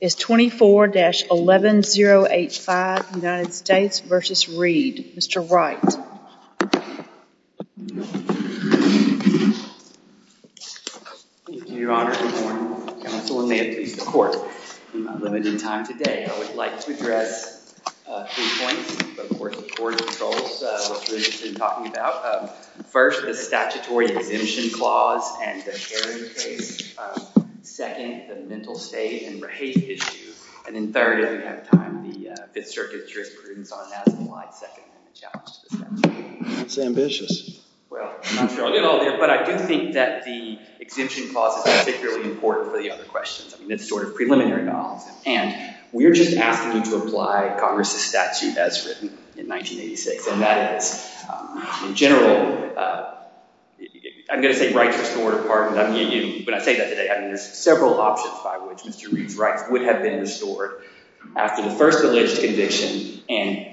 is 24-11085 United States v. Reed. Mr. Wright. Thank you, Your Honor. Good morning. Counselor Mayotte, please, the Court. I'm limited in time today. I would like to address three points before the Court of Appeals which we've been talking about. First, the statutory exemption clause and the Herring case. Second, the mental state and Rahate issue. And then third, if we have time, the Fifth Circuit jurisprudence on that is applied. Second, the challenge to the statute. That's ambitious. Well, I'm not sure I'll get all there, but I do think that the exemption clause is particularly important for the other questions. I mean, it's sort of preliminary knowledge. And we're just asking you to apply Congress' statute as written in 1986, and that is, in general, I'm going to say righteous or pardoned. When I say that today, I mean, there's several options by which Mr. Reed's rights would have been restored after the first alleged conviction, and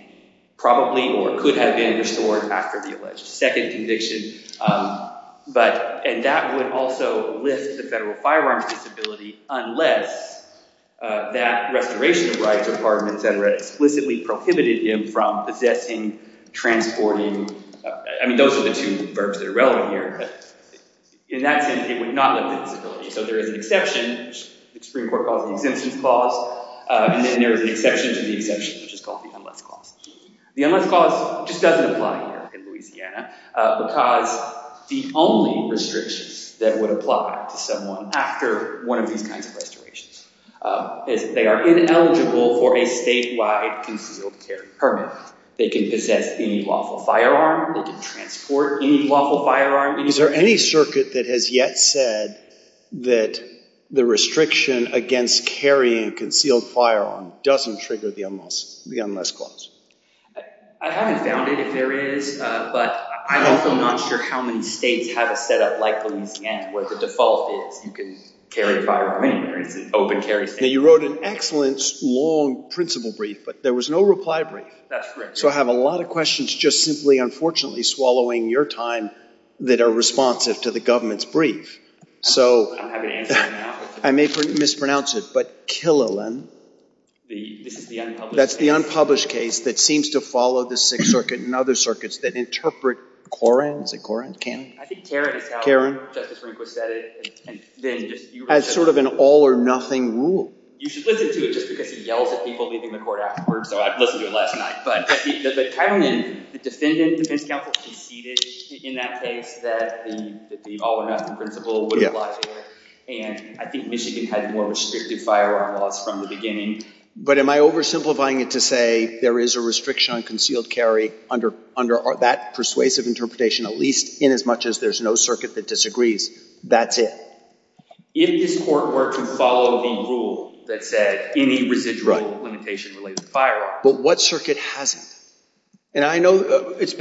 probably or could have been restored after the alleged second conviction. And that would also lift the federal firearms disability unless that restoration of rights or pardons, et cetera, explicitly prohibited him from possessing, transporting. I mean, those are the two verbs that are relevant here. But in that sense, it would not lift the disability. So there is an exception, which the Supreme Court calls the exemptions clause, and then there is an exception to the exemption, which is called the unless clause. The unless clause just doesn't apply here in Louisiana because the only restrictions that would apply to someone after one of these kinds of restorations is they are ineligible for a statewide concealed carry permit. They can possess any lawful firearm. They can transport any lawful firearm. Is there any circuit that has yet said that the restriction against carrying a concealed firearm doesn't trigger the unless clause? I haven't found it, if there is. But I'm also not sure how many states have a setup like Louisiana, where the default is you can carry a firearm anywhere. It's an open carry state. Now, you wrote an excellent, long principle brief, but there was no reply brief. That's correct. So I have a lot of questions just simply, unfortunately, swallowing your time that are responsive to the government's brief. I'm happy to answer them now. I may mispronounce it, but Killiland. This is the unpublished case. That's the unpublished case that seems to follow the Sixth Circuit and other circuits that interpret Koren. Is it Koren? I think Karen is how Justice Rehnquist said it. As sort of an all or nothing rule. You should listen to it just because he yells at people leaving the court afterwards. So I listened to it last night. But Killiland, the defendant defense counsel conceded in that case that the all or nothing principle would apply there. And I think Michigan had more restrictive firearm laws from the beginning. But am I oversimplifying it to say there is a restriction on concealed carry under that persuasive interpretation, at least in as much as there's no circuit that disagrees. That's it. If this court were to follow the rule that said any residual limitation related to firearms. But what circuit hasn't? And I know that's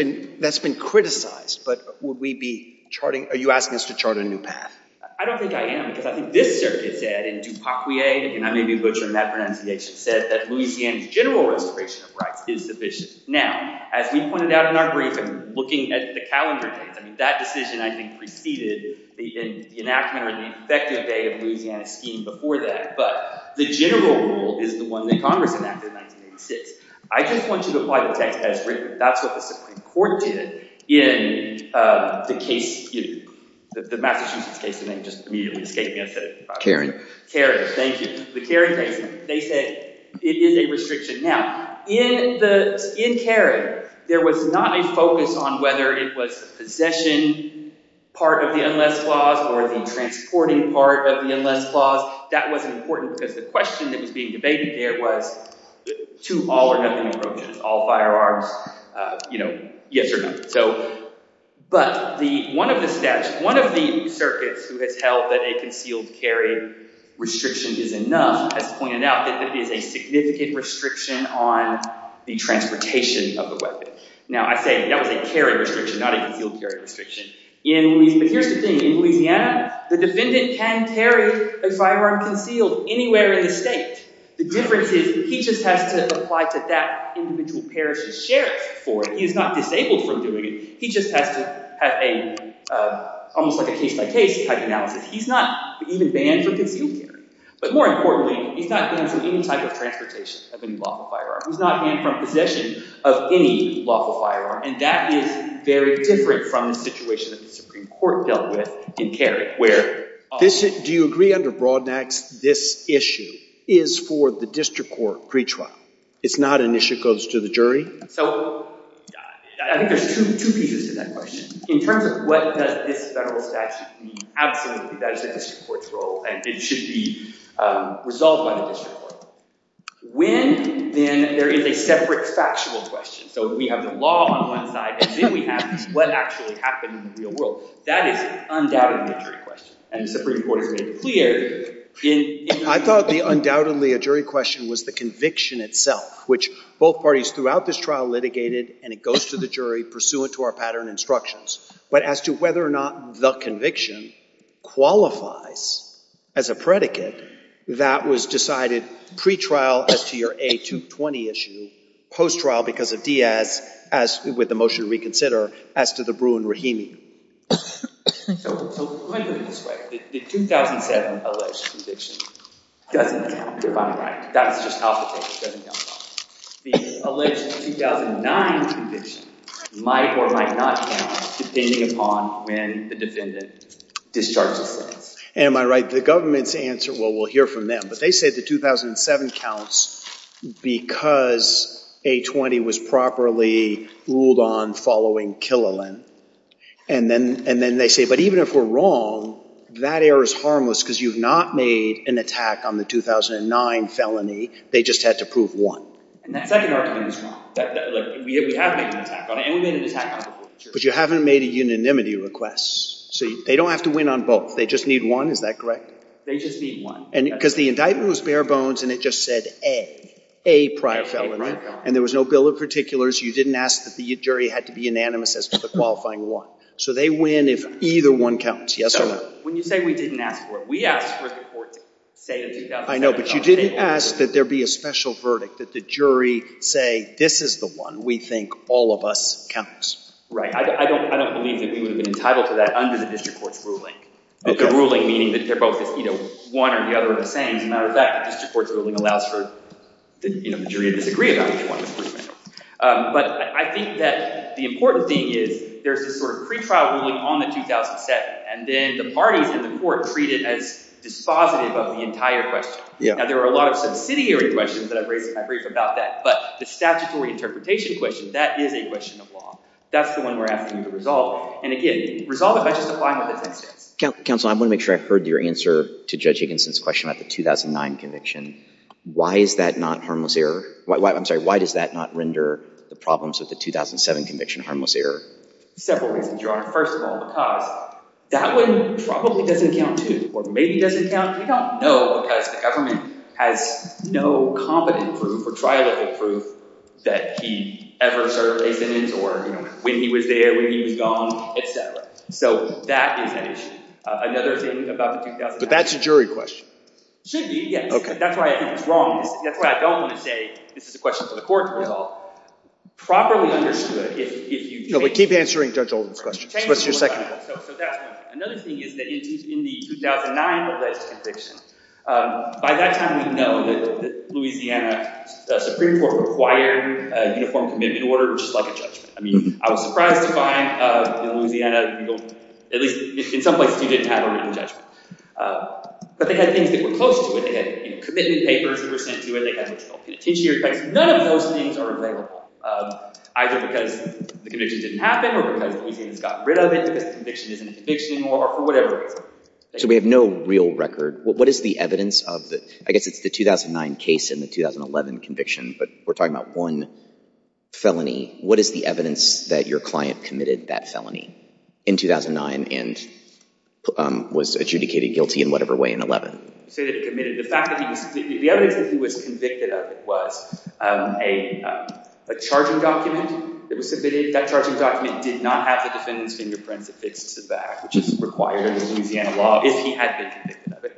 been criticized. But would we be charting? Are you asking us to chart a new path? I don't think I am. Because I think this circuit said, and DuPaguier, and I may be butchering that pronunciation, said that Louisiana's general restoration of rights is sufficient. Now, as we pointed out in our briefing, looking at the calendar dates, that decision, I think, preceded the enactment or the effective date of Louisiana's scheme before that. But the general rule is the one that Congress enacted in 1986. I just want you to apply the text as written. That's what the Supreme Court did in the case, the Massachusetts case. And they just immediately escaped me. I said it. Caring. Thank you. The Caring case, they said it is a restriction. Now, in Caring, there was not a focus on whether it was the possession part of the unless clause or the transporting part of the unless clause. That wasn't important, because the question that was being debated there was to all or nothing approaches, all firearms, yes or no. But one of the circuits who has held that a concealed carry restriction is enough has pointed out that there is a significant restriction on the transportation of the weapon. Now, I say that was a carry restriction, not a concealed carry restriction. But here's the thing. In Louisiana, the defendant can carry a firearm concealed anywhere in the state. The difference is he just has to apply to that individual parish's sheriff for it. He is not disabled from doing it. He just has to have almost like a case-by-case type analysis. He's not even banned from concealed carrying. But more importantly, he's not banned from any type of transportation of any lawful firearm. He's not banned from possession of any lawful firearm. And that is very different from the situation that the Supreme Court dealt with in carry, where often Do you agree under Brodnax this issue is for the district court pretrial? It's not an issue that goes to the jury? So I think there's two pieces to that question. In terms of what does this federal statute mean, absolutely, that is the district court's role. And it should be resolved by the district court. When, then, there is a separate factual question. So we have the law on one side. And then we have what actually happened in the real world. That is undoubtedly a jury question. And the Supreme Court has made it clear. I thought the undoubtedly a jury question was the conviction itself, which both parties throughout this trial litigated. And it goes to the jury pursuant to our pattern instructions. But as to whether or not the conviction qualifies as a predicate, that was decided pretrial as to your A220 issue, post-trial because of Diaz, with the motion to reconsider, as to the Bruin-Rahimi. So let me put it this way. The 2007 alleged conviction doesn't count, if I'm right. That's just how it looks. It doesn't count at all. The alleged 2009 conviction might or might not count, depending upon when the defendant discharges the sentence. Am I right? The government's answer, well, we'll hear from them. But they said the 2007 counts because A220 was properly ruled on following Killalin. And then they say, but even if we're wrong, that error is harmless because you've not made an attack on the 2009 felony. They just had to prove one. And that second argument is wrong. We have made an attack on it. And we made an attack on it. But you haven't made a unanimity request. So they don't have to win on both. They just need one. Is that correct? They just need one. Because the indictment was bare bones. And it just said A, A prior felony. And there was no bill of particulars. You didn't ask that the jury had to be unanimous as to the qualifying one. So they win if either one counts. Yes or no? When you say we didn't ask for it, we asked for the court to say the 2007 counts. I know. But you didn't ask that there be a special verdict, that the jury say, this is the one we think all of us counts. Right. I don't believe that we would have been entitled to that under the district court's ruling. The ruling meaning that they're both one or the other of the same. As a matter of fact, the district court's ruling allows for the jury to disagree about which one is which. But I think that the important thing is there's this sort of pretrial ruling on the 2007. And then the parties in the court treat it as dispositive of the entire question. Now, there are a lot of subsidiary questions that I've raised in my brief about that. But the statutory interpretation question, that is a question of law. That's the one we're asking you to resolve. And again, resolve it by just applying what the text says. Counsel, I want to make sure I heard your answer to Judge Higginson's question about the 2009 conviction. Why is that not harmless error? I'm sorry, why does that not render the problems of the 2007 conviction harmless error? Several reasons, Your Honor. First of all, because that one probably doesn't count, too. Or maybe doesn't count. We don't know, because the government has no competent proof or trial-level proof that he ever served a sentence. Or when he was there, when he was gone, et cetera. So that is an issue. Another thing about the 2009 conviction. But that's a jury question. Should be, yes. That's why I think it's wrong. That's why I don't want to say, this is a question for the court to resolve. Properly understood, if you change it. No, but keep answering Judge Oldham's questions. What's your second? So that's one. Another thing is that in the 2009 alleged conviction, by that time we know that Louisiana Supreme Court required a uniform commitment order, which is like a judgment. I mean, I was surprised to find in Louisiana, at least in some places you didn't have a written judgment. But they had things that were close to it. They had commitment papers that were sent to it. They had penitentiary effects. None of those things are available. Either because the conviction didn't happen, or because Louisiana's got rid of it, because the conviction isn't a conviction, or whatever it is. So we have no real record. What is the evidence of the, I guess it's the 2009 case and the 2011 conviction, but we're talking about one felony. What is the evidence that your client committed that felony in 2009, and was adjudicated guilty in whatever way in 2011? You say that he committed. The evidence that he was convicted of was a charging document that was submitted. That charging document did not have the defendant's fingerprints affixed to the back, which is required under Louisiana law, if he had been convicted of it.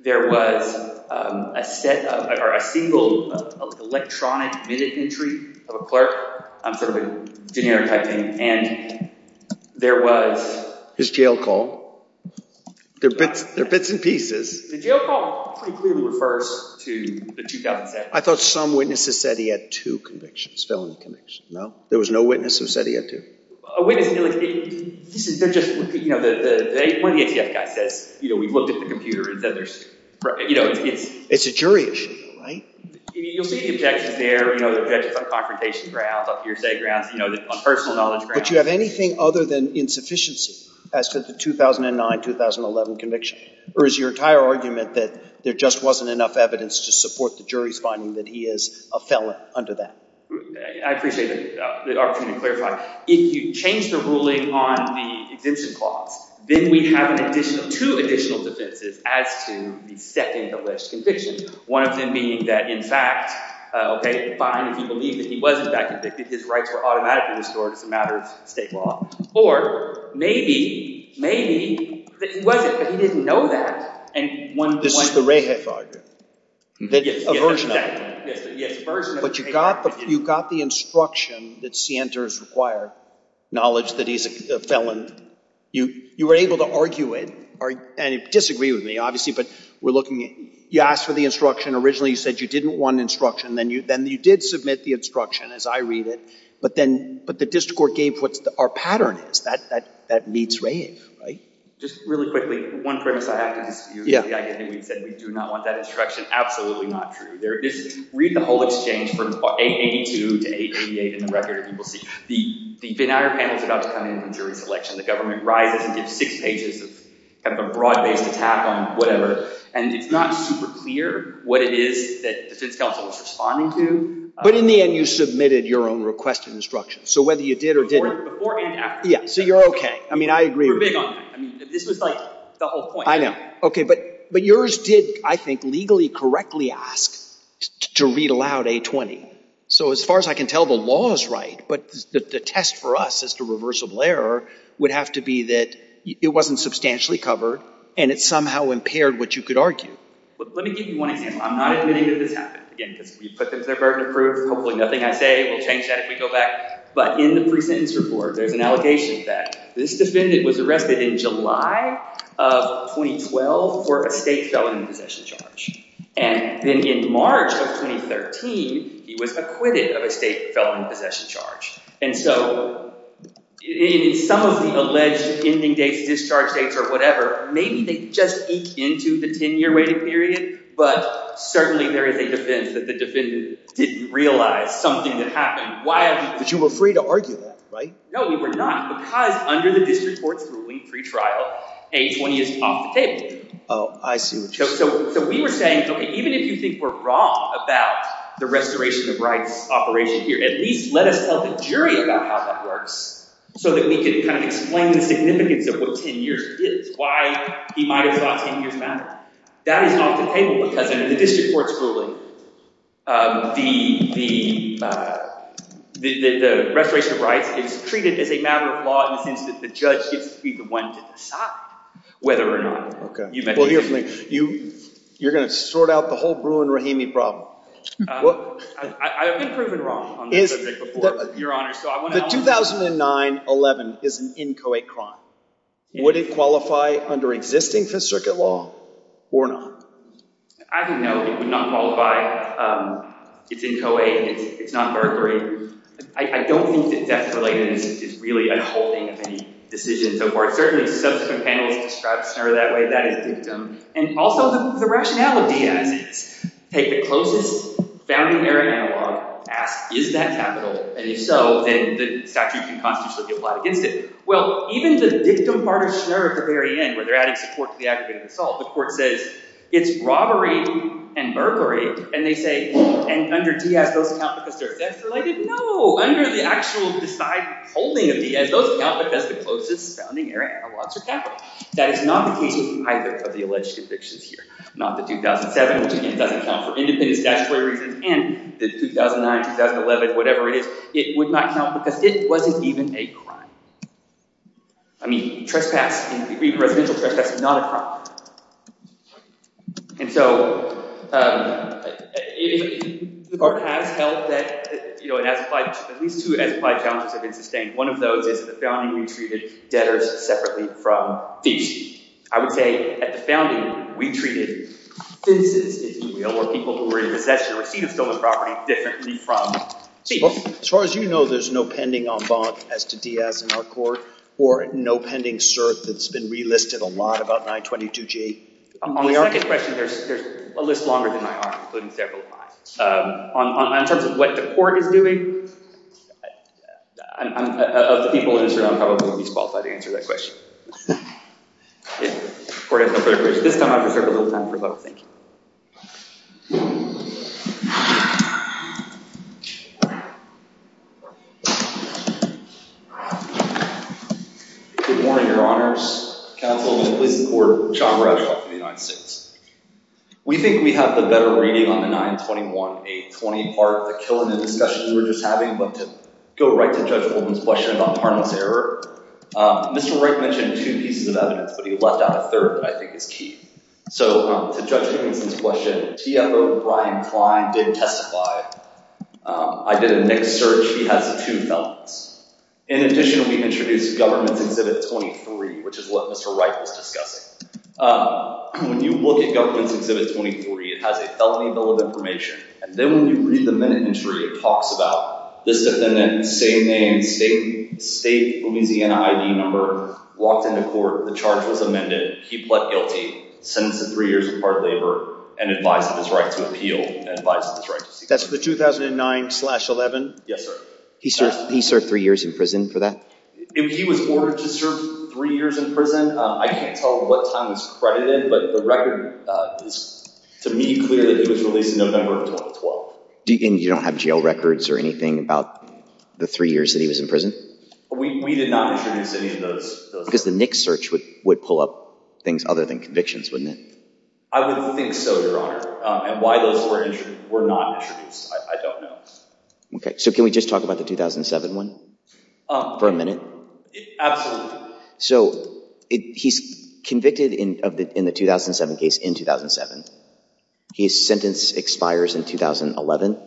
There was a set of, or a single electronic minute entry of a clerk, sort of a generic type thing. And there was. His jail call. They're bits and pieces. The jail call pretty clearly refers to the 2007. I thought some witnesses said he had two convictions, felony convictions. No? There was no witness who said he had two? A witness, they're just, one of the ATF guys says, we looked at the computer and said there's. It's a jury issue, right? You'll see the objections there, the objections on confrontation grounds, on hearsay grounds, on personal knowledge grounds. But you have anything other than insufficiency, as to the 2009, 2011 conviction? Or is your entire argument that there just wasn't enough evidence to support the jury's finding that he is a felon under that? I appreciate the opportunity to clarify. If you change the ruling on the exemption clause, then we have two additional defenses as to the second alleged conviction. One of them being that, in fact, OK, fine, if you believe that he was in fact convicted, his rights were automatically restored. It's a matter of state law. Or maybe, maybe that he wasn't, but he didn't know that. And one point. This is the Rehef argument. A version of it. Yes, a version of it. But you got the instruction that Sienta is required, knowledge that he's a felon. You were able to argue it. And you disagree with me, obviously. But you asked for the instruction. Originally, you said you didn't want instruction. Then you did submit the instruction, as I read it. But the district court gave what our pattern is. That meets Rehef, right? Just really quickly. One premise I have to dispute is the idea that we said we do not want that instruction. Absolutely not true. Read the whole exchange from 882 to 888 in the record, and you will see. The Venn-Eyer panel is about to come in from jury selection. The government rises and gives six pages of a broad-based attack on whatever. And it's not super clear what it is that defense counsel is responding to. But in the end, you submitted your own request of instruction. So whether you did or didn't. Before and after. Yeah, so you're OK. I mean, I agree with you. We're big on that. This was the whole point. I know. OK, but yours did, I think, legally correctly ask to read aloud 820. So as far as I can tell, the law is right. But the test for us as to reversible error would have to be that it wasn't substantially covered, and it somehow impaired what you could argue. But let me give you one example. I'm not admitting that this happened. Again, because we put them to their burden of proof. Hopefully nothing I say will change that if we go back. But in the pre-sentence report, there's an allegation that this defendant was arrested in July of 2012 for a state felon in possession charge. And then in March of 2013, he was acquitted of a state felon in possession charge. And so in some of the alleged ending dates, discharge dates, or whatever, maybe they just eke into the 10-year waiting period. But certainly there is a defense that the defendant didn't realize something had happened. But you were free to argue that, right? No, we were not. Because under the district court's ruling pre-trial, 820 is off the table. Oh, I see what you're saying. So we were saying, OK, even if you think we're wrong about the restoration of rights operation here, at least let us tell the jury about how that works so that we can kind of explain the significance of what 10 years is. Why he might have thought 10 years mattered. That is off the table. Because under the district court's ruling, the restoration of rights is treated as a matter of law in the sense that the judge gets to be the one to decide whether or not you mediate. Well, here's the thing. You're going to sort out the whole Bruin-Rahimi problem. I've been proven wrong on this before, Your Honor. The 2009-11 is an in co-ed crime. Would it qualify under existing Fifth Circuit law or not? I think no, it would not qualify. It's in co-ed. It's not burglary. I don't think that death relatedness is really a holding of any decision so far. Certainly, subsequent panels describe SNR that way. That is dictum. And also, the rationale of Diaz is, take the closest founding era analog, ask, is that capital? And if so, then the statute can constitutionally be applied against it. Well, even the dictum part of SNR at the very end, where they're adding support to the aggravated assault, the court says, it's robbery and burglary. And they say, and under Diaz, those count because they're death related? No, under the actual decide holding of Diaz, those count because the closest founding era analogs are capital. That is not the case with either of the alleged convictions here, not the 2007, which again, doesn't count for independent statutory reasons, and the 2009, 2011, whatever it is. It would not count because it wasn't even a crime. I mean, residential trespass is not a crime. And so the court has held that at least two as applied challenges have been sustained. One of those is the founding retreated debtors separately from thieves. I would say, at the founding, we treated thin citizens, if you will, or people who were in possession or receipt of stolen property differently from thieves. As far as you know, there's no pending en banc as to Diaz in our court? Or no pending cert that's been relisted a lot about 922G? On the second question, there's a list longer than I are, including several of mine. In terms of what the court is doing, of the people in this room, I'm probably going to be disqualified to answer that question. The court has no further questions. This time, I've reserved a little time for both. Thank you. Good morning, Your Honors. Counsel, will you please support John Bradshaw from the United States? We think we have the better reading on the 921A20 part of the killing and discussions we were just having. But to go right to Judge Goldman's question about Parnell's error, Mr. Wright mentioned two pieces of evidence. But he left out a third I think is key. So to Judge Goldman's question, TFO Brian Klein did testify. I did a mixed search. He has two felons. In addition, we introduced Government's Exhibit 23, which is what Mr. Wright was discussing. When you look at Government's Exhibit 23, it has a felony bill of information. And then when you read the minute entry, it talks about this defendant, same name, state Louisiana ID number, walked into court. The charge was amended. He pled guilty, sentenced to three years of hard labor, and advised of his right to appeal, and advised of his right to seek justice. That's the 2009 slash 11? Yes, sir. He served three years in prison for that? He was ordered to serve three years in prison. I can't tell what time it's credited. But the record is, to me, clear that he was released in November of 2012. And you don't have jail records or anything about the three years that he was in prison? We did not introduce any of those. Because the mixed search would pull up things other than convictions, wouldn't it? I would think so, Your Honor. And why those were not introduced, I don't know. So can we just talk about the 2007 one for a minute? Absolutely. So he's convicted in the 2007 case in 2007. His sentence expires in 2011.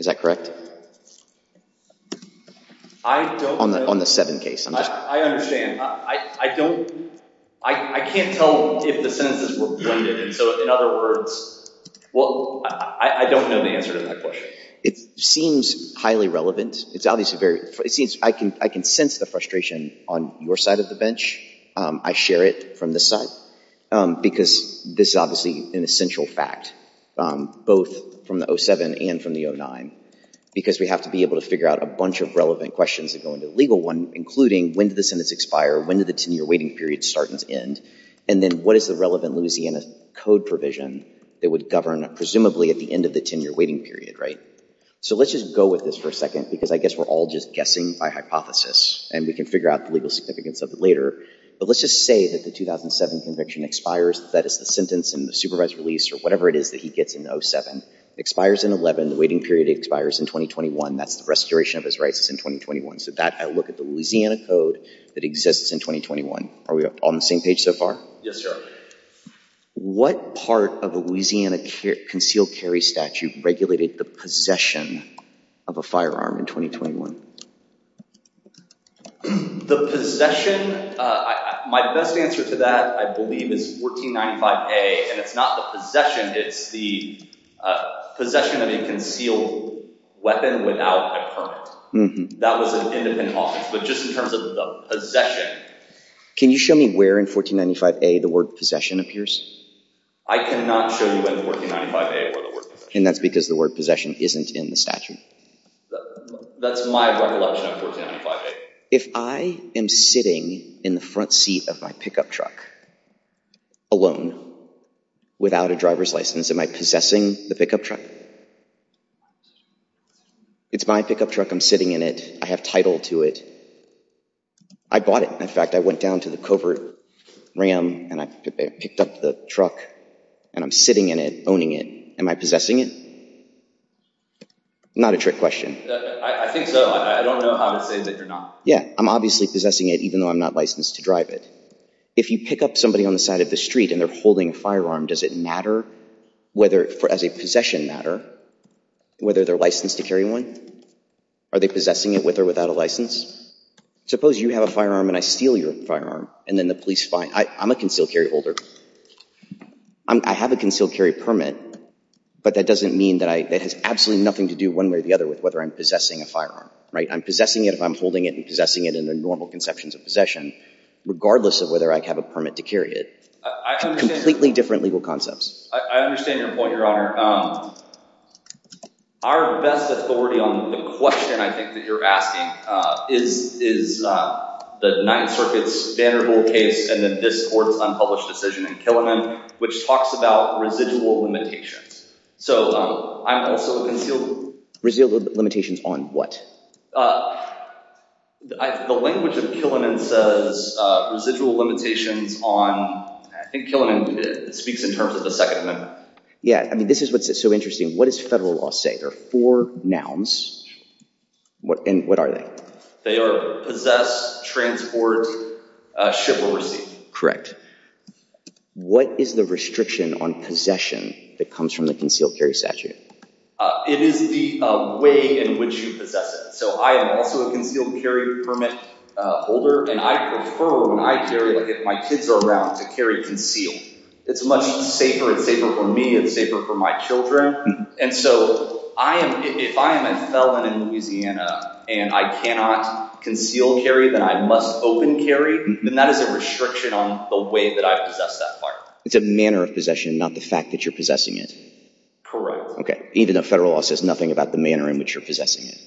Is that correct? I don't know. On the 7 case. I understand. I can't tell if the sentences were blended. And so, in other words, I don't know the answer to that question. It seems highly relevant. I can sense the frustration on your side of the bench. I share it from this side. Because this is obviously an essential fact, both from the 07 and from the 09. Because we have to be able to figure out a bunch of relevant questions that go into the legal one, including, when did the sentence expire? When did the 10-year waiting period start and end? And then, what is the relevant Louisiana code provision that would govern, presumably, at the end of the 10-year waiting period, right? So let's just go with this for a second. Because I guess we're all just guessing by hypothesis. And we can figure out the legal significance of it later. But let's just say that the 2007 conviction expires. That is the sentence in the supervised release, or whatever it is that he gets in 07. It expires in 11. The waiting period expires in 2021. That's the restoration of his rights is in 2021. So that, I look at the Louisiana code that exists in 2021. Are we all on the same page so far? Yes, sir. What part of a Louisiana concealed carry statute regulated the possession of a firearm in 2021? The possession? My best answer to that, I believe, is 1495A. And it's not the possession. It's the possession of a concealed weapon without a permit. That was an independent office. But just in terms of the possession. Can you show me where in 1495A the word possession appears? I cannot show you in 1495A where the word possession appears. And that's because the word possession isn't in the statute. That's my recollection of 1495A. If I am sitting in the front seat of my pickup truck alone without a driver's license, am I possessing the pickup truck? It's my pickup truck. I'm sitting in it. I have title to it. I bought it. In fact, I went down to the Covert Ram, and I picked up the truck. And I'm sitting in it, owning it. Am I possessing it? Not a trick question. I think so. I don't know how to say that you're not. Yeah. I'm obviously possessing it, even though I'm not licensed to drive it. If you pick up somebody on the side of the street, and they're holding a firearm, does it matter, as a possession matter, whether they're licensed to carry one? Are they possessing it with or without a license? Suppose you have a firearm, and I steal your firearm. And then the police find it. I'm a concealed carry holder. I have a concealed carry permit. But that doesn't mean that it has absolutely nothing to do one way or the other with whether I'm possessing a firearm. I'm possessing it if I'm holding it and possessing it in the normal conceptions of possession, regardless of whether I have a permit to carry it. Completely different legal concepts. I understand your point, Your Honor. Our best authority on the question, I think, that you're asking is the Ninth Circuit's Vanderbilt case, and then this court's unpublished decision in Killiman, which talks about residual limitations. So I'm also concealed. Residual limitations on what? The language of Killiman says residual limitations on, I think Killiman speaks in terms of the Second Amendment. Yeah. I mean, this is what's so interesting. What does federal law say? There are four nouns. And what are they? They are possess, transport, ship, or receive. Correct. What is the restriction on possession that comes from the concealed carry statute? It is the way in which you possess it. So I am also a concealed carry permit holder. And I prefer, when I carry, like if my kids are around, to carry concealed. It's much safer. It's safer for me. It's safer for my children. And so if I am a felon in Louisiana and I cannot conceal carry, then I must open carry, then that is a restriction on the way that I possess that part. It's a manner of possession, not the fact that you're possessing it. Correct. OK. Even though federal law says nothing about the manner in which you're possessing it.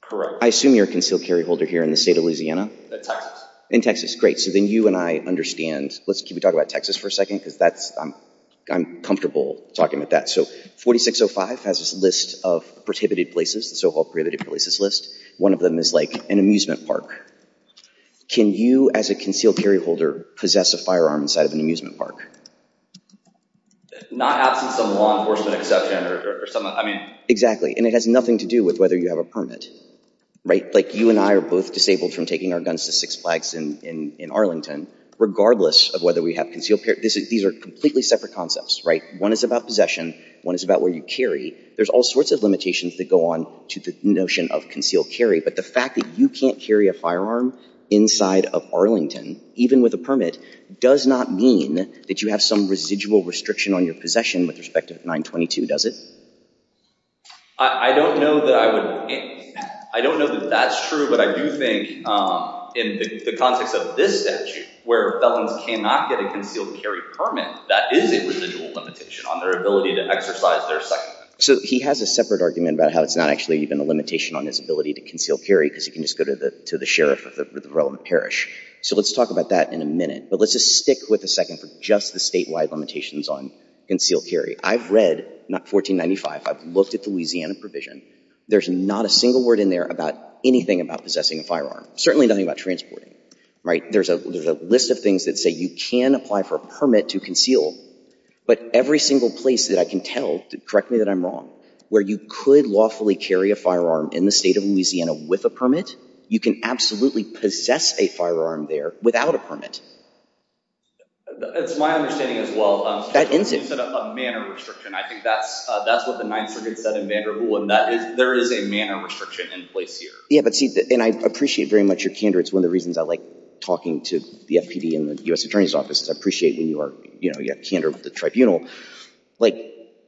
Correct. I assume you're a concealed carry holder here in the state of Louisiana. In Texas. In Texas, great. So then you and I understand. Let's keep talking about Texas for a second, because I'm comfortable talking about that. So 4605 has this list of prohibited places, the so-called prohibited places list. One of them is like an amusement park. Can you, as a concealed carry holder, possess a firearm inside of an amusement park? Not absent some law enforcement exception or something. I mean. Exactly. And it has nothing to do with whether you have a permit. Right? Like you and I are both disabled from taking our guns to Six Flags in Arlington, regardless of whether we have concealed carry. These are completely separate concepts, right? One is about possession. One is about where you carry. There's all sorts of limitations that go on to the notion of concealed carry. But the fact that you can't carry a firearm inside of Arlington, even with a permit, does not mean that you have some residual restriction on your possession with respect to 922, does it? I don't know that I would think that. I don't know that that's true. But I do think, in the context of this statute, where felons cannot get a concealed carry permit, that is a residual limitation on their ability to exercise their secondment. So he has a separate argument about how it's not actually even a limitation on his ability to conceal carry, because he can just go to the sheriff of the relevant parish. So let's talk about that in a minute. But let's just stick with a second for just the statewide limitations on concealed carry. I've read, not 1495, I've looked at the Louisiana provision. There's not a single word in there about anything about possessing a firearm. Certainly nothing about transporting. Right? There's a list of things that say you can apply for a permit to conceal. But every single place that I can tell, correct me that I'm wrong, where you could lawfully carry a firearm in the state of Louisiana with a permit, you can absolutely possess a firearm there without a permit. It's my understanding as well. That ends it. You said a manner restriction. I think that's what the Ninth Circuit said in Vanderbilt. And there is a manner restriction in place here. Yeah. But see, and I appreciate very much your candor. It's one of the reasons I like talking to the FPD and the US Attorney's Office. I appreciate when you have candor with the tribunal.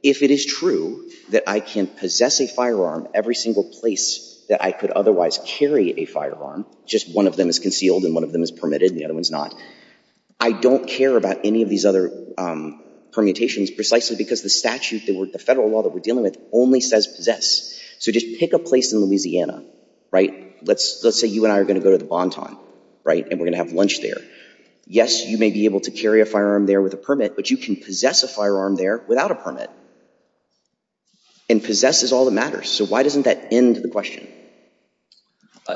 If it is true that I can possess a firearm every single place that I could otherwise carry a firearm, just one of them is concealed and one of them is permitted and the other one's not, I don't care about any of these other permutations precisely because the statute, the federal law that we're dealing with only says possess. So just pick a place in Louisiana. Right? Let's say you and I are going to go to the Bonton. Right? And we're going to have lunch there. Yes, you may be able to carry a firearm there with a permit, but you can possess a firearm there without a permit. And possess is all that matters. So why doesn't that end the question?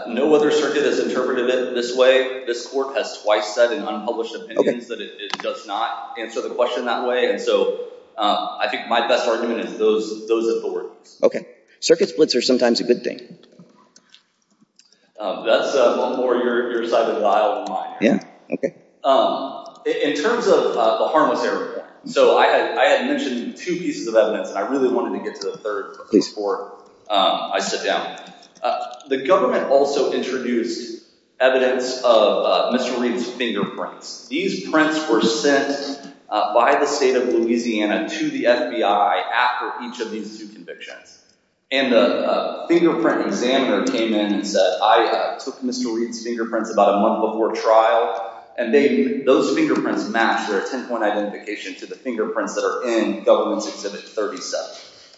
No other circuit has interpreted it this way. This court has twice said in unpublished opinions that it does not answer the question that way. And so I think my best argument is those authorities. OK. Circuit splits are sometimes a good thing. That's one more your side of the aisle than mine. Yeah. OK. In terms of the harmless area, so I had mentioned two pieces of evidence, and I really wanted to get to the third piece before I sit down. The government also introduced evidence of Mr. Reed's fingerprints. These prints were sent by the state of Louisiana to the FBI after each of these two convictions. And the fingerprint examiner came in and said, I took Mr. Reed's fingerprints about a month before trial, and those fingerprints match their 10-point identification to the fingerprints that are in Government's Exhibit 37.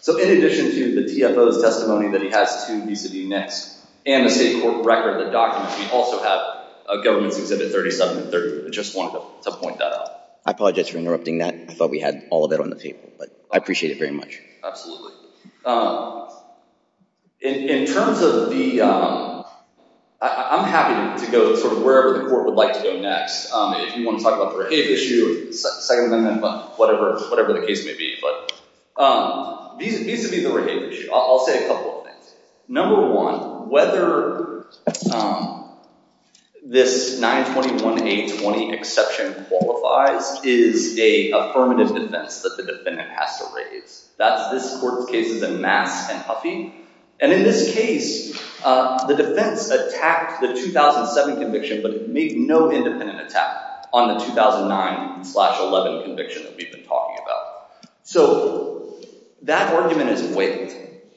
So in addition to the TFO's testimony that he has two BCD NICs and a state court record that documents, we also have a Government's Exhibit 37. I just wanted to point that out. I apologize for interrupting that. I thought we had all of it on the table. But I appreciate it very much. Absolutely. In terms of the, I'm happy to go to wherever the court would like to go next. If you want to talk about the Rehave issue, second amendment, whatever the case may be. Vis-a-vis the Rehave issue, I'll say a couple of things. Number one, whether this 921A20 exception qualifies is a affirmative defense that the defendant has to raise. This court's case is in Mass and Huffy. And in this case, the defense attacked the 2007 conviction but made no independent attack on the 2009 slash 11 conviction that we've been talking about. So that argument is waived.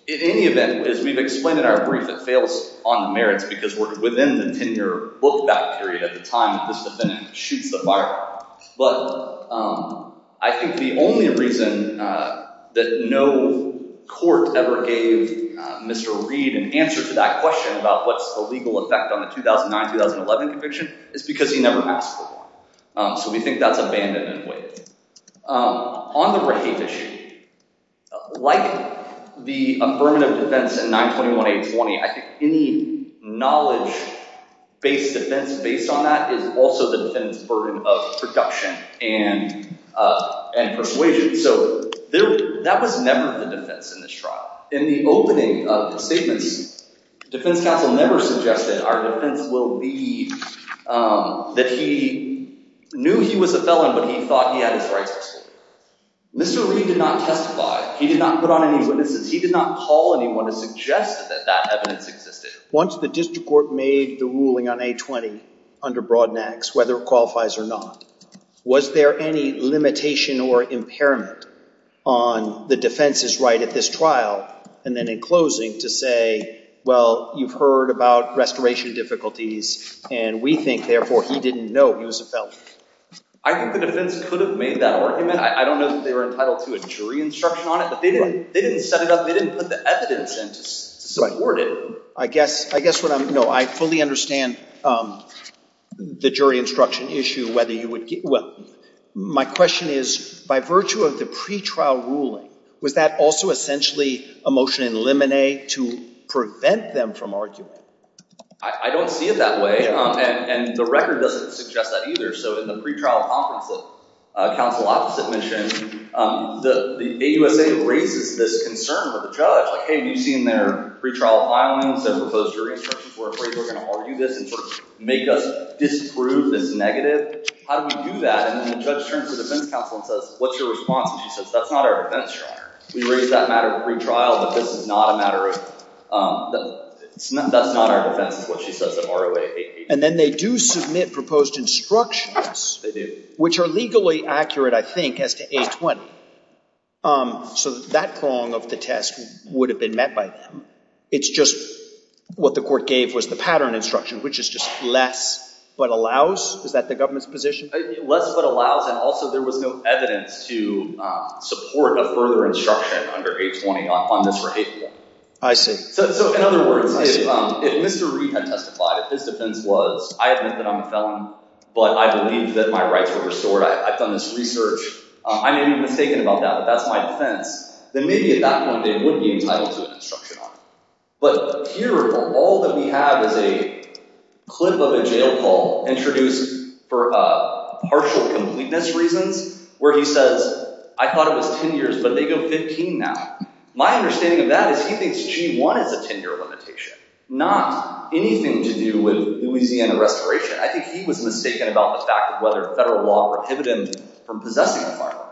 In any event, as we've explained in our brief, it fails on the merits because we're within the tenure book back period at the time that this defendant shoots the fireball. But I think the only reason that no court ever gave Mr. Reed an answer to that question about what's the legal effect on the 2009-2011 conviction is because he never asked for one. So we think that's abandoned and waived. On the Rehave issue, like the affirmative defense in 921A20, I think any knowledge-based defense based on that is also the defendant's burden of production and persuasion. So that was never the defense in this trial. In the opening of the statements, the defense counsel never suggested our defense will be that he knew he was a felon, but he thought he had his rights. Mr. Reed did not testify. He did not put on any witnesses. He did not call anyone to suggest that that evidence existed. Once the district court made the ruling on A20 under Broadnax, whether it qualifies or not, was there any limitation or impairment on the defense's right at this trial, and then in closing, to say, well, you've heard about restoration difficulties, and we think, therefore, he didn't know he was a felon? I think the defense could have made that argument. I don't know that they were entitled to a jury instruction on it, but they didn't set it up. They didn't put the evidence in to support it. I guess what I'm, no, I fully understand the jury instruction issue, whether you would, well, my question is, by virtue of the pretrial ruling, was that also essentially a motion in limine to prevent them from arguing? I don't see it that way, and the record doesn't suggest that either. So in the pretrial conference that counsel opposite mentioned, the AUSA raises this concern for the judge, like, hey, have you seen their pretrial filings, their proposed jury instructions where people are going to argue this and sort of make us disprove this negative? How do we do that? And then the judge turns to the defense counsel and says, what's your response? And she says, that's not our defense, Your Honor. We raise that matter of pretrial, but this is not a matter of, that's not our defense, is what she says in ROA 880. And then they do submit proposed instructions. They do. Which are legally accurate, I think, as to 820. So that prong of the test would have been met by them. It's just what the court gave was the pattern instruction, which is just less but allows? Is that the government's position? Less but allows, and also there was no evidence to support a further instruction under 820 on this behavior. I see. So in other words, if Mr. Reed had testified, if his defense was, I admit that I'm a felon, but I believe that my rights were restored, I've done this research, I may be mistaken about that, but that's my defense, then maybe at that point, they would be entitled to an instruction on it. But here, all that we have is a clip of a jail call introduced for partial completeness reasons, where he says, I thought it was 10 years, but they go 15 now. My understanding of that is he thinks G1 is a 10-year limitation, not anything to do with Louisiana restoration. I think he was mistaken about the fact of whether federal law prohibited him from possessing a firearm.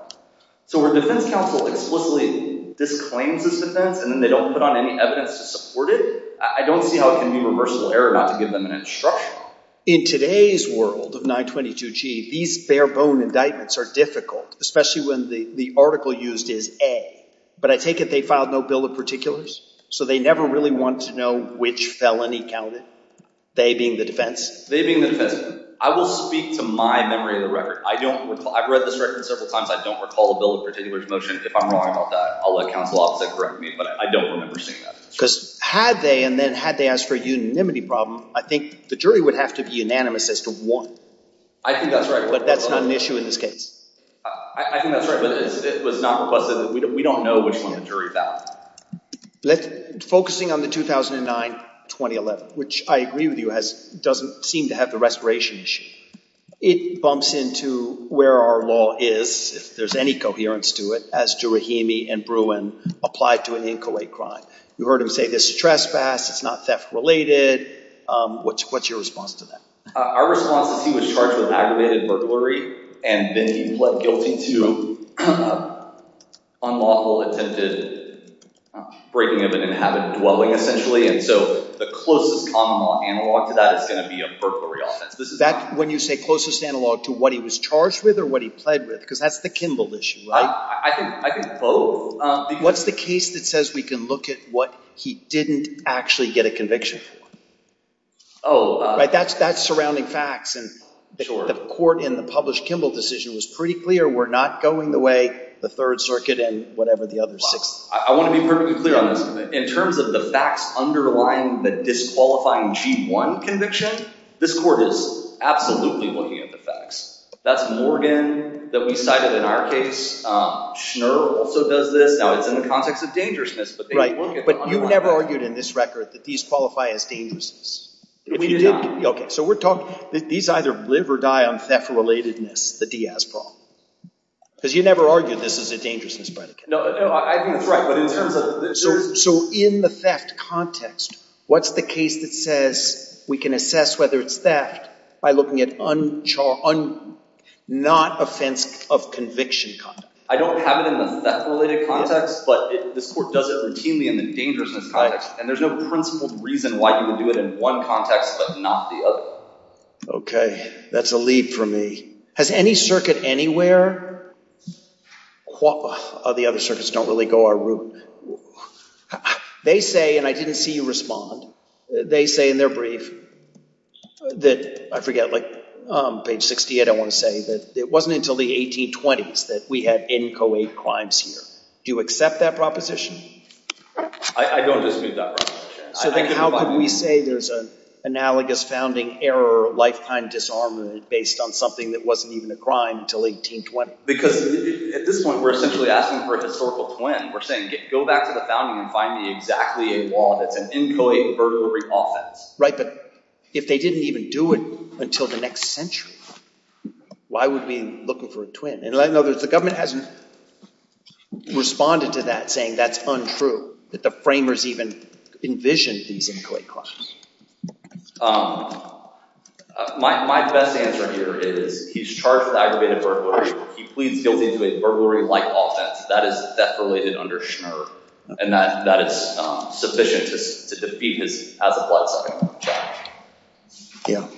So where defense counsel explicitly disclaims this defense and then they don't put on any evidence to support it, I don't see how it can be reversible error not to give them an instruction. In today's world of 922G, these bare-bone indictments are difficult, especially when the article used is A. But I take it they filed no bill of particulars, so they never really wanted to know which felony counted, they being the defense? They being the defense. I will speak to my memory of the record. I don't recall. I've read this record several times. I don't recall a bill of particulars motion. If I'm wrong about that, I'll let counsel opposite correct me, but I don't remember seeing that. Because had they, and then had they asked for a unanimity problem, I think the jury would have to be unanimous as to one. I think that's right. But that's not an issue in this case. I think that's right, but it was not requested. We don't know which one the jury found. Focusing on the 2009-2011, which I agree with you, doesn't seem to have the restoration issue. It bumps into where our law is, if there's any coherence to it, as to Rahimi and Bruin applied to an inchoate crime. You heard him say this is trespass, it's not theft-related. What's your response to that? Our response is he was charged with aggravated burglary, and then he pled guilty to unlawful attempted breaking of an inhabited dwelling, essentially, and so the closest common law analog to that is going to be a burglary offense. When you say closest analog to what he was charged with or what he pled with, because that's the Kimball issue, right? I think both. What's the case that says we can look at what he didn't actually get a conviction for? Oh. That's surrounding facts, and the court in the published Kimball decision was pretty clear. We're not going the way the Third Circuit and whatever the other six. I want to be perfectly clear on this. In terms of the facts underlying the disqualifying G1 conviction, this court is absolutely looking at the facts. That's Morgan that we cited in our case. Schnur also does this. Now it's in the context of dangerousness. Right, but you never argued in this record that these qualify as dangerousness. We did not. Okay, so we're talking that these either live or die on theft-relatedness, the Diaz problem, because you never argued this is a dangerousness predicate. No, I think that's right. So in the theft context, what's the case that says we can assess whether it's theft by looking at not offense of conviction conduct? I don't have it in the theft-related context, but this court does it routinely in the dangerousness context, and there's no principled reason why you would do it in one context but not the other. Okay, that's a leap for me. Has any circuit anywhere—the other circuits don't really go our route. They say, and I didn't see you respond, they say in their brief that—I forget, like page 68 I want to say— that it wasn't until the 1820s that we had inchoate crimes here. Do you accept that proposition? I don't dispute that proposition. So then how could we say there's an analogous founding error or lifetime disarmament based on something that wasn't even a crime until 1820? Because at this point we're essentially asking for a historical twin. We're saying go back to the founding and find me exactly a law that's an inchoate, aggravated burglary offense. Right, but if they didn't even do it until the next century, why would we be looking for a twin? In other words, the government hasn't responded to that saying that's untrue, that the framers even envisioned these inchoate crimes. My best answer here is he's charged with aggravated burglary. He pleads guilty to a burglary-like offense. That is death-related under Schnur, and that is sufficient to defeat his as-applied-second-law charge.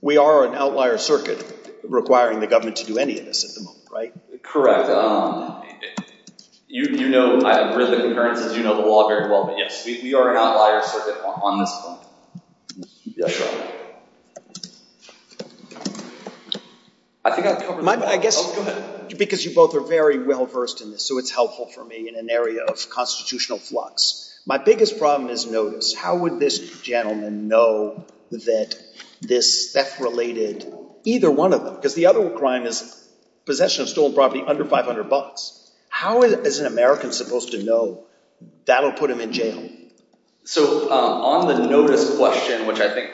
We are an outlier circuit requiring the government to do any of this at the moment, right? Correct. You know—I've read the concurrences. You know the law very well. But, yes, we are an outlier circuit on this point. Yes, sir. I think I've covered— I guess because you both are very well-versed in this, so it's helpful for me in an area of constitutional flux. My biggest problem is notice. How would this gentleman know that this theft-related—either one of them, because the other crime is possession of stolen property under 500 bucks. How is an American supposed to know that'll put him in jail? So on the notice question, which I think—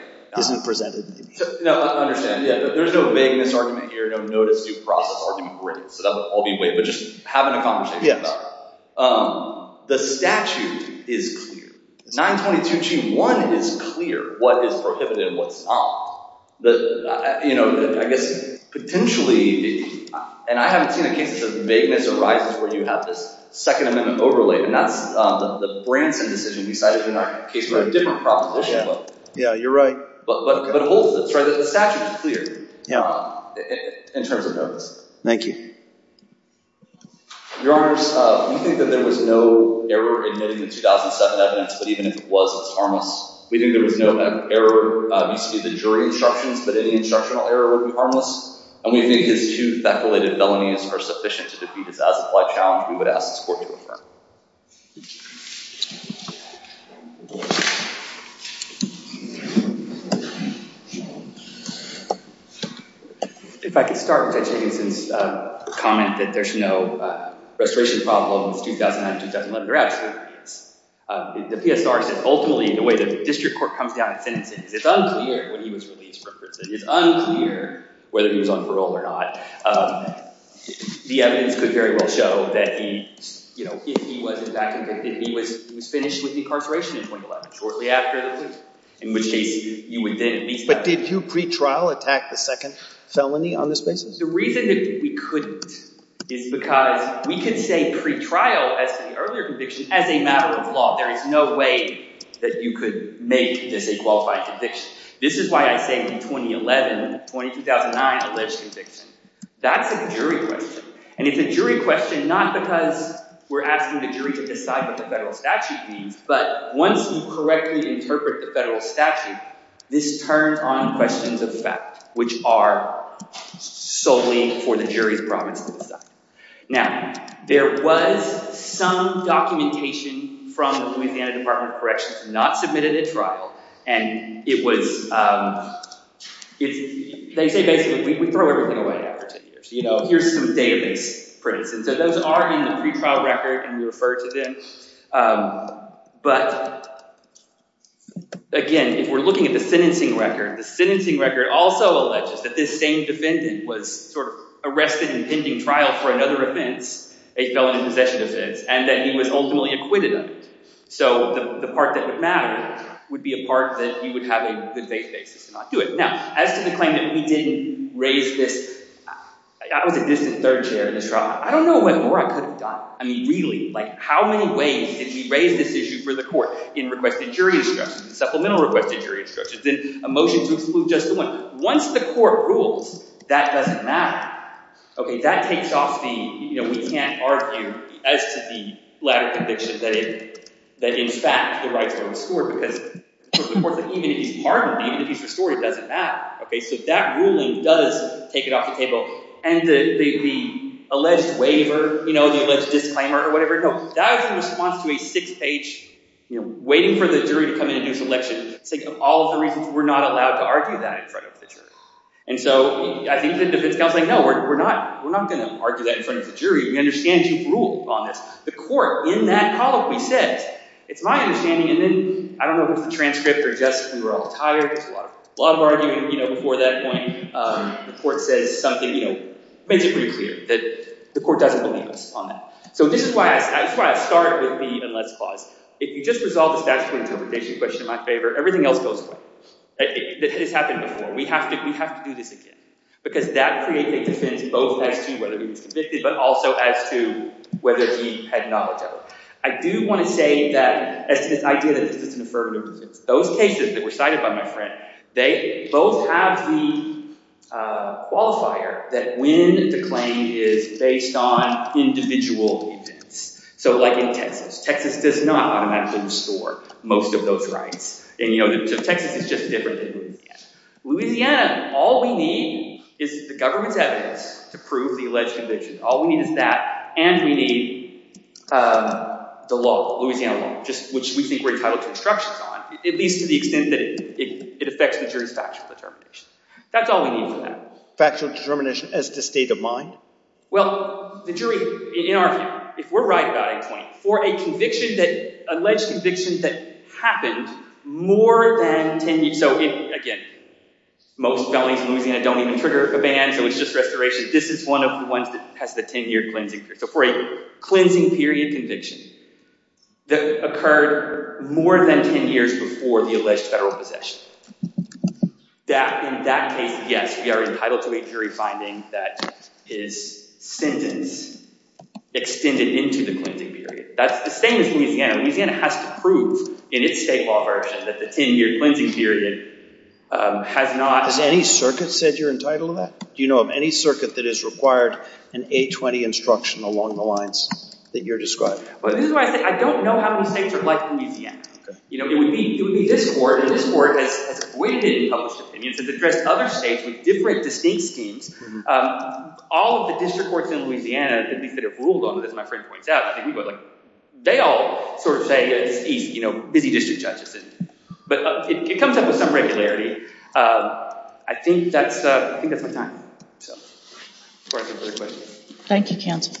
No, I understand. There's no vagueness argument here, no notice due process argument. Great. So that would all be weight, but just having a conversation about it. The statute is clear. 922g1 is clear what is prohibited and what's not. You know, I guess potentially—and I haven't seen a case that says vagueness arises where you have this Second Amendment overlay, and that's the Branson decision decided in a case with a different proposition. Yeah, you're right. But hold this. The statute is clear in terms of notice. Thank you. Your Honors, we think that there was no error in admitting the 2007 evidence, but even if it was, it's harmless. We think there was no error vis-a-vis the jury instructions, but any instructional error would be harmless, and we think his two theft-related felonies are sufficient to defeat his as-applied challenge. We would ask this Court to affirm. If I could start with Judge Higginson's comment that there's no restoration problem with the 2009-2011 or out-of-script evidence. The PSR says ultimately the way the district court comes down and sentences, it's unclear when he was released from prison. It's unclear whether he was on parole or not. The evidence could very well show that he, you know, if he was in fact convicted, he was finished with incarceration in 2011, shortly after the loop, in which case you would then at least… But did you pre-trial attack the second felony on this basis? The reason that we couldn't is because we could say pre-trial as to the earlier conviction as a matter of law. There is no way that you could make this a qualified conviction. This is why I say in 2011 and 2009 alleged conviction. That's a jury question. And it's a jury question not because we're asking the jury to decide what the federal statute means, but once you correctly interpret the federal statute, this turns on questions of fact, which are solely for the jury's promise to decide. Now, there was some documentation from the Louisiana Department of Corrections not submitted at trial, and it was… they say basically we throw everything away after 10 years. You know, here's some database prints, and so those are in the pre-trial record, and we refer to them. But, again, if we're looking at the sentencing record, the sentencing record also alleges that this same defendant was sort of arrested in pending trial for another offense, a felony possession offense, and that he was ultimately acquitted of it. So the part that would matter would be a part that you would have a good faith basis to not do it. Now, as to the claim that we didn't raise this… I was a distant third chair in this trial. I don't know what more I could have done. I mean, really, like how many ways did we raise this issue for the court in requested jury instructions, supplemental requested jury instructions, in a motion to exclude just the one? Once the court rules, that doesn't matter. Okay, that takes off the, you know, we can't argue as to the latter conviction that in fact the rights are restored because, of course, even if he's pardoned, even if he's restored, it doesn't matter. Okay, so that ruling does take it off the table. And the alleged waiver, you know, the alleged disclaimer or whatever, no, that was in response to a six-page, you know, waiting for the jury to come in and do a selection, saying all of the reasons we're not allowed to argue that in front of the jury. And so I think the defense counsel is like, no, we're not going to argue that in front of the jury. We understand you've ruled on this. The court in that colloquy says, it's my understanding, and then I don't know if it's the transcript or just we were all tired. There was a lot of arguing, you know, before that point. The court says something, you know, makes it pretty clear that the court doesn't believe us on that. So this is why I start with the even less clause. If you just resolve the statutory interpretation question in my favor, everything else goes away. That has happened before. We have to do this again because that creates a defense both as to whether he was convicted but also as to whether he had knowledge of it. I do want to say that as to this idea that this is an affirmative defense, those cases that were cited by my friend, they both have the qualifier that when the claim is based on individual events. So like in Texas, Texas does not automatically restore most of those rights. And, you know, Texas is just different than Louisiana. Louisiana, all we need is the government's evidence to prove the alleged conviction. All we need is that and we need the law, Louisiana law, which we think we're entitled to instructions on, at least to the extent that it affects the jury's factual determination. That's all we need for that. Factual determination as to state of mind? Well, the jury, in our view, if we're right about a point, for a conviction that, alleged conviction that happened more than 10 years, so again, most felonies in Louisiana don't even trigger a ban, so it's just restoration. This is one of the ones that has the 10-year cleansing period. So for a cleansing period conviction that occurred more than 10 years before the alleged federal possession. In that case, yes, we are entitled to a jury finding that is sentence extended into the cleansing period. That's the same as Louisiana. Louisiana has to prove in its state law version that the 10-year cleansing period has not. Has any circuit said you're entitled to that? Do you know of any circuit that has required an A20 instruction along the lines that you're describing? I don't know how many states are like Louisiana. It would be this court, and this court has avoided published opinions. It's addressed other states with different distinct schemes. All of the district courts in Louisiana, at least that have ruled on it, as my friend points out, they all sort of say it's easy, busy district judges. But it comes up with some regularity. I think that's my time. Thank you, counsel.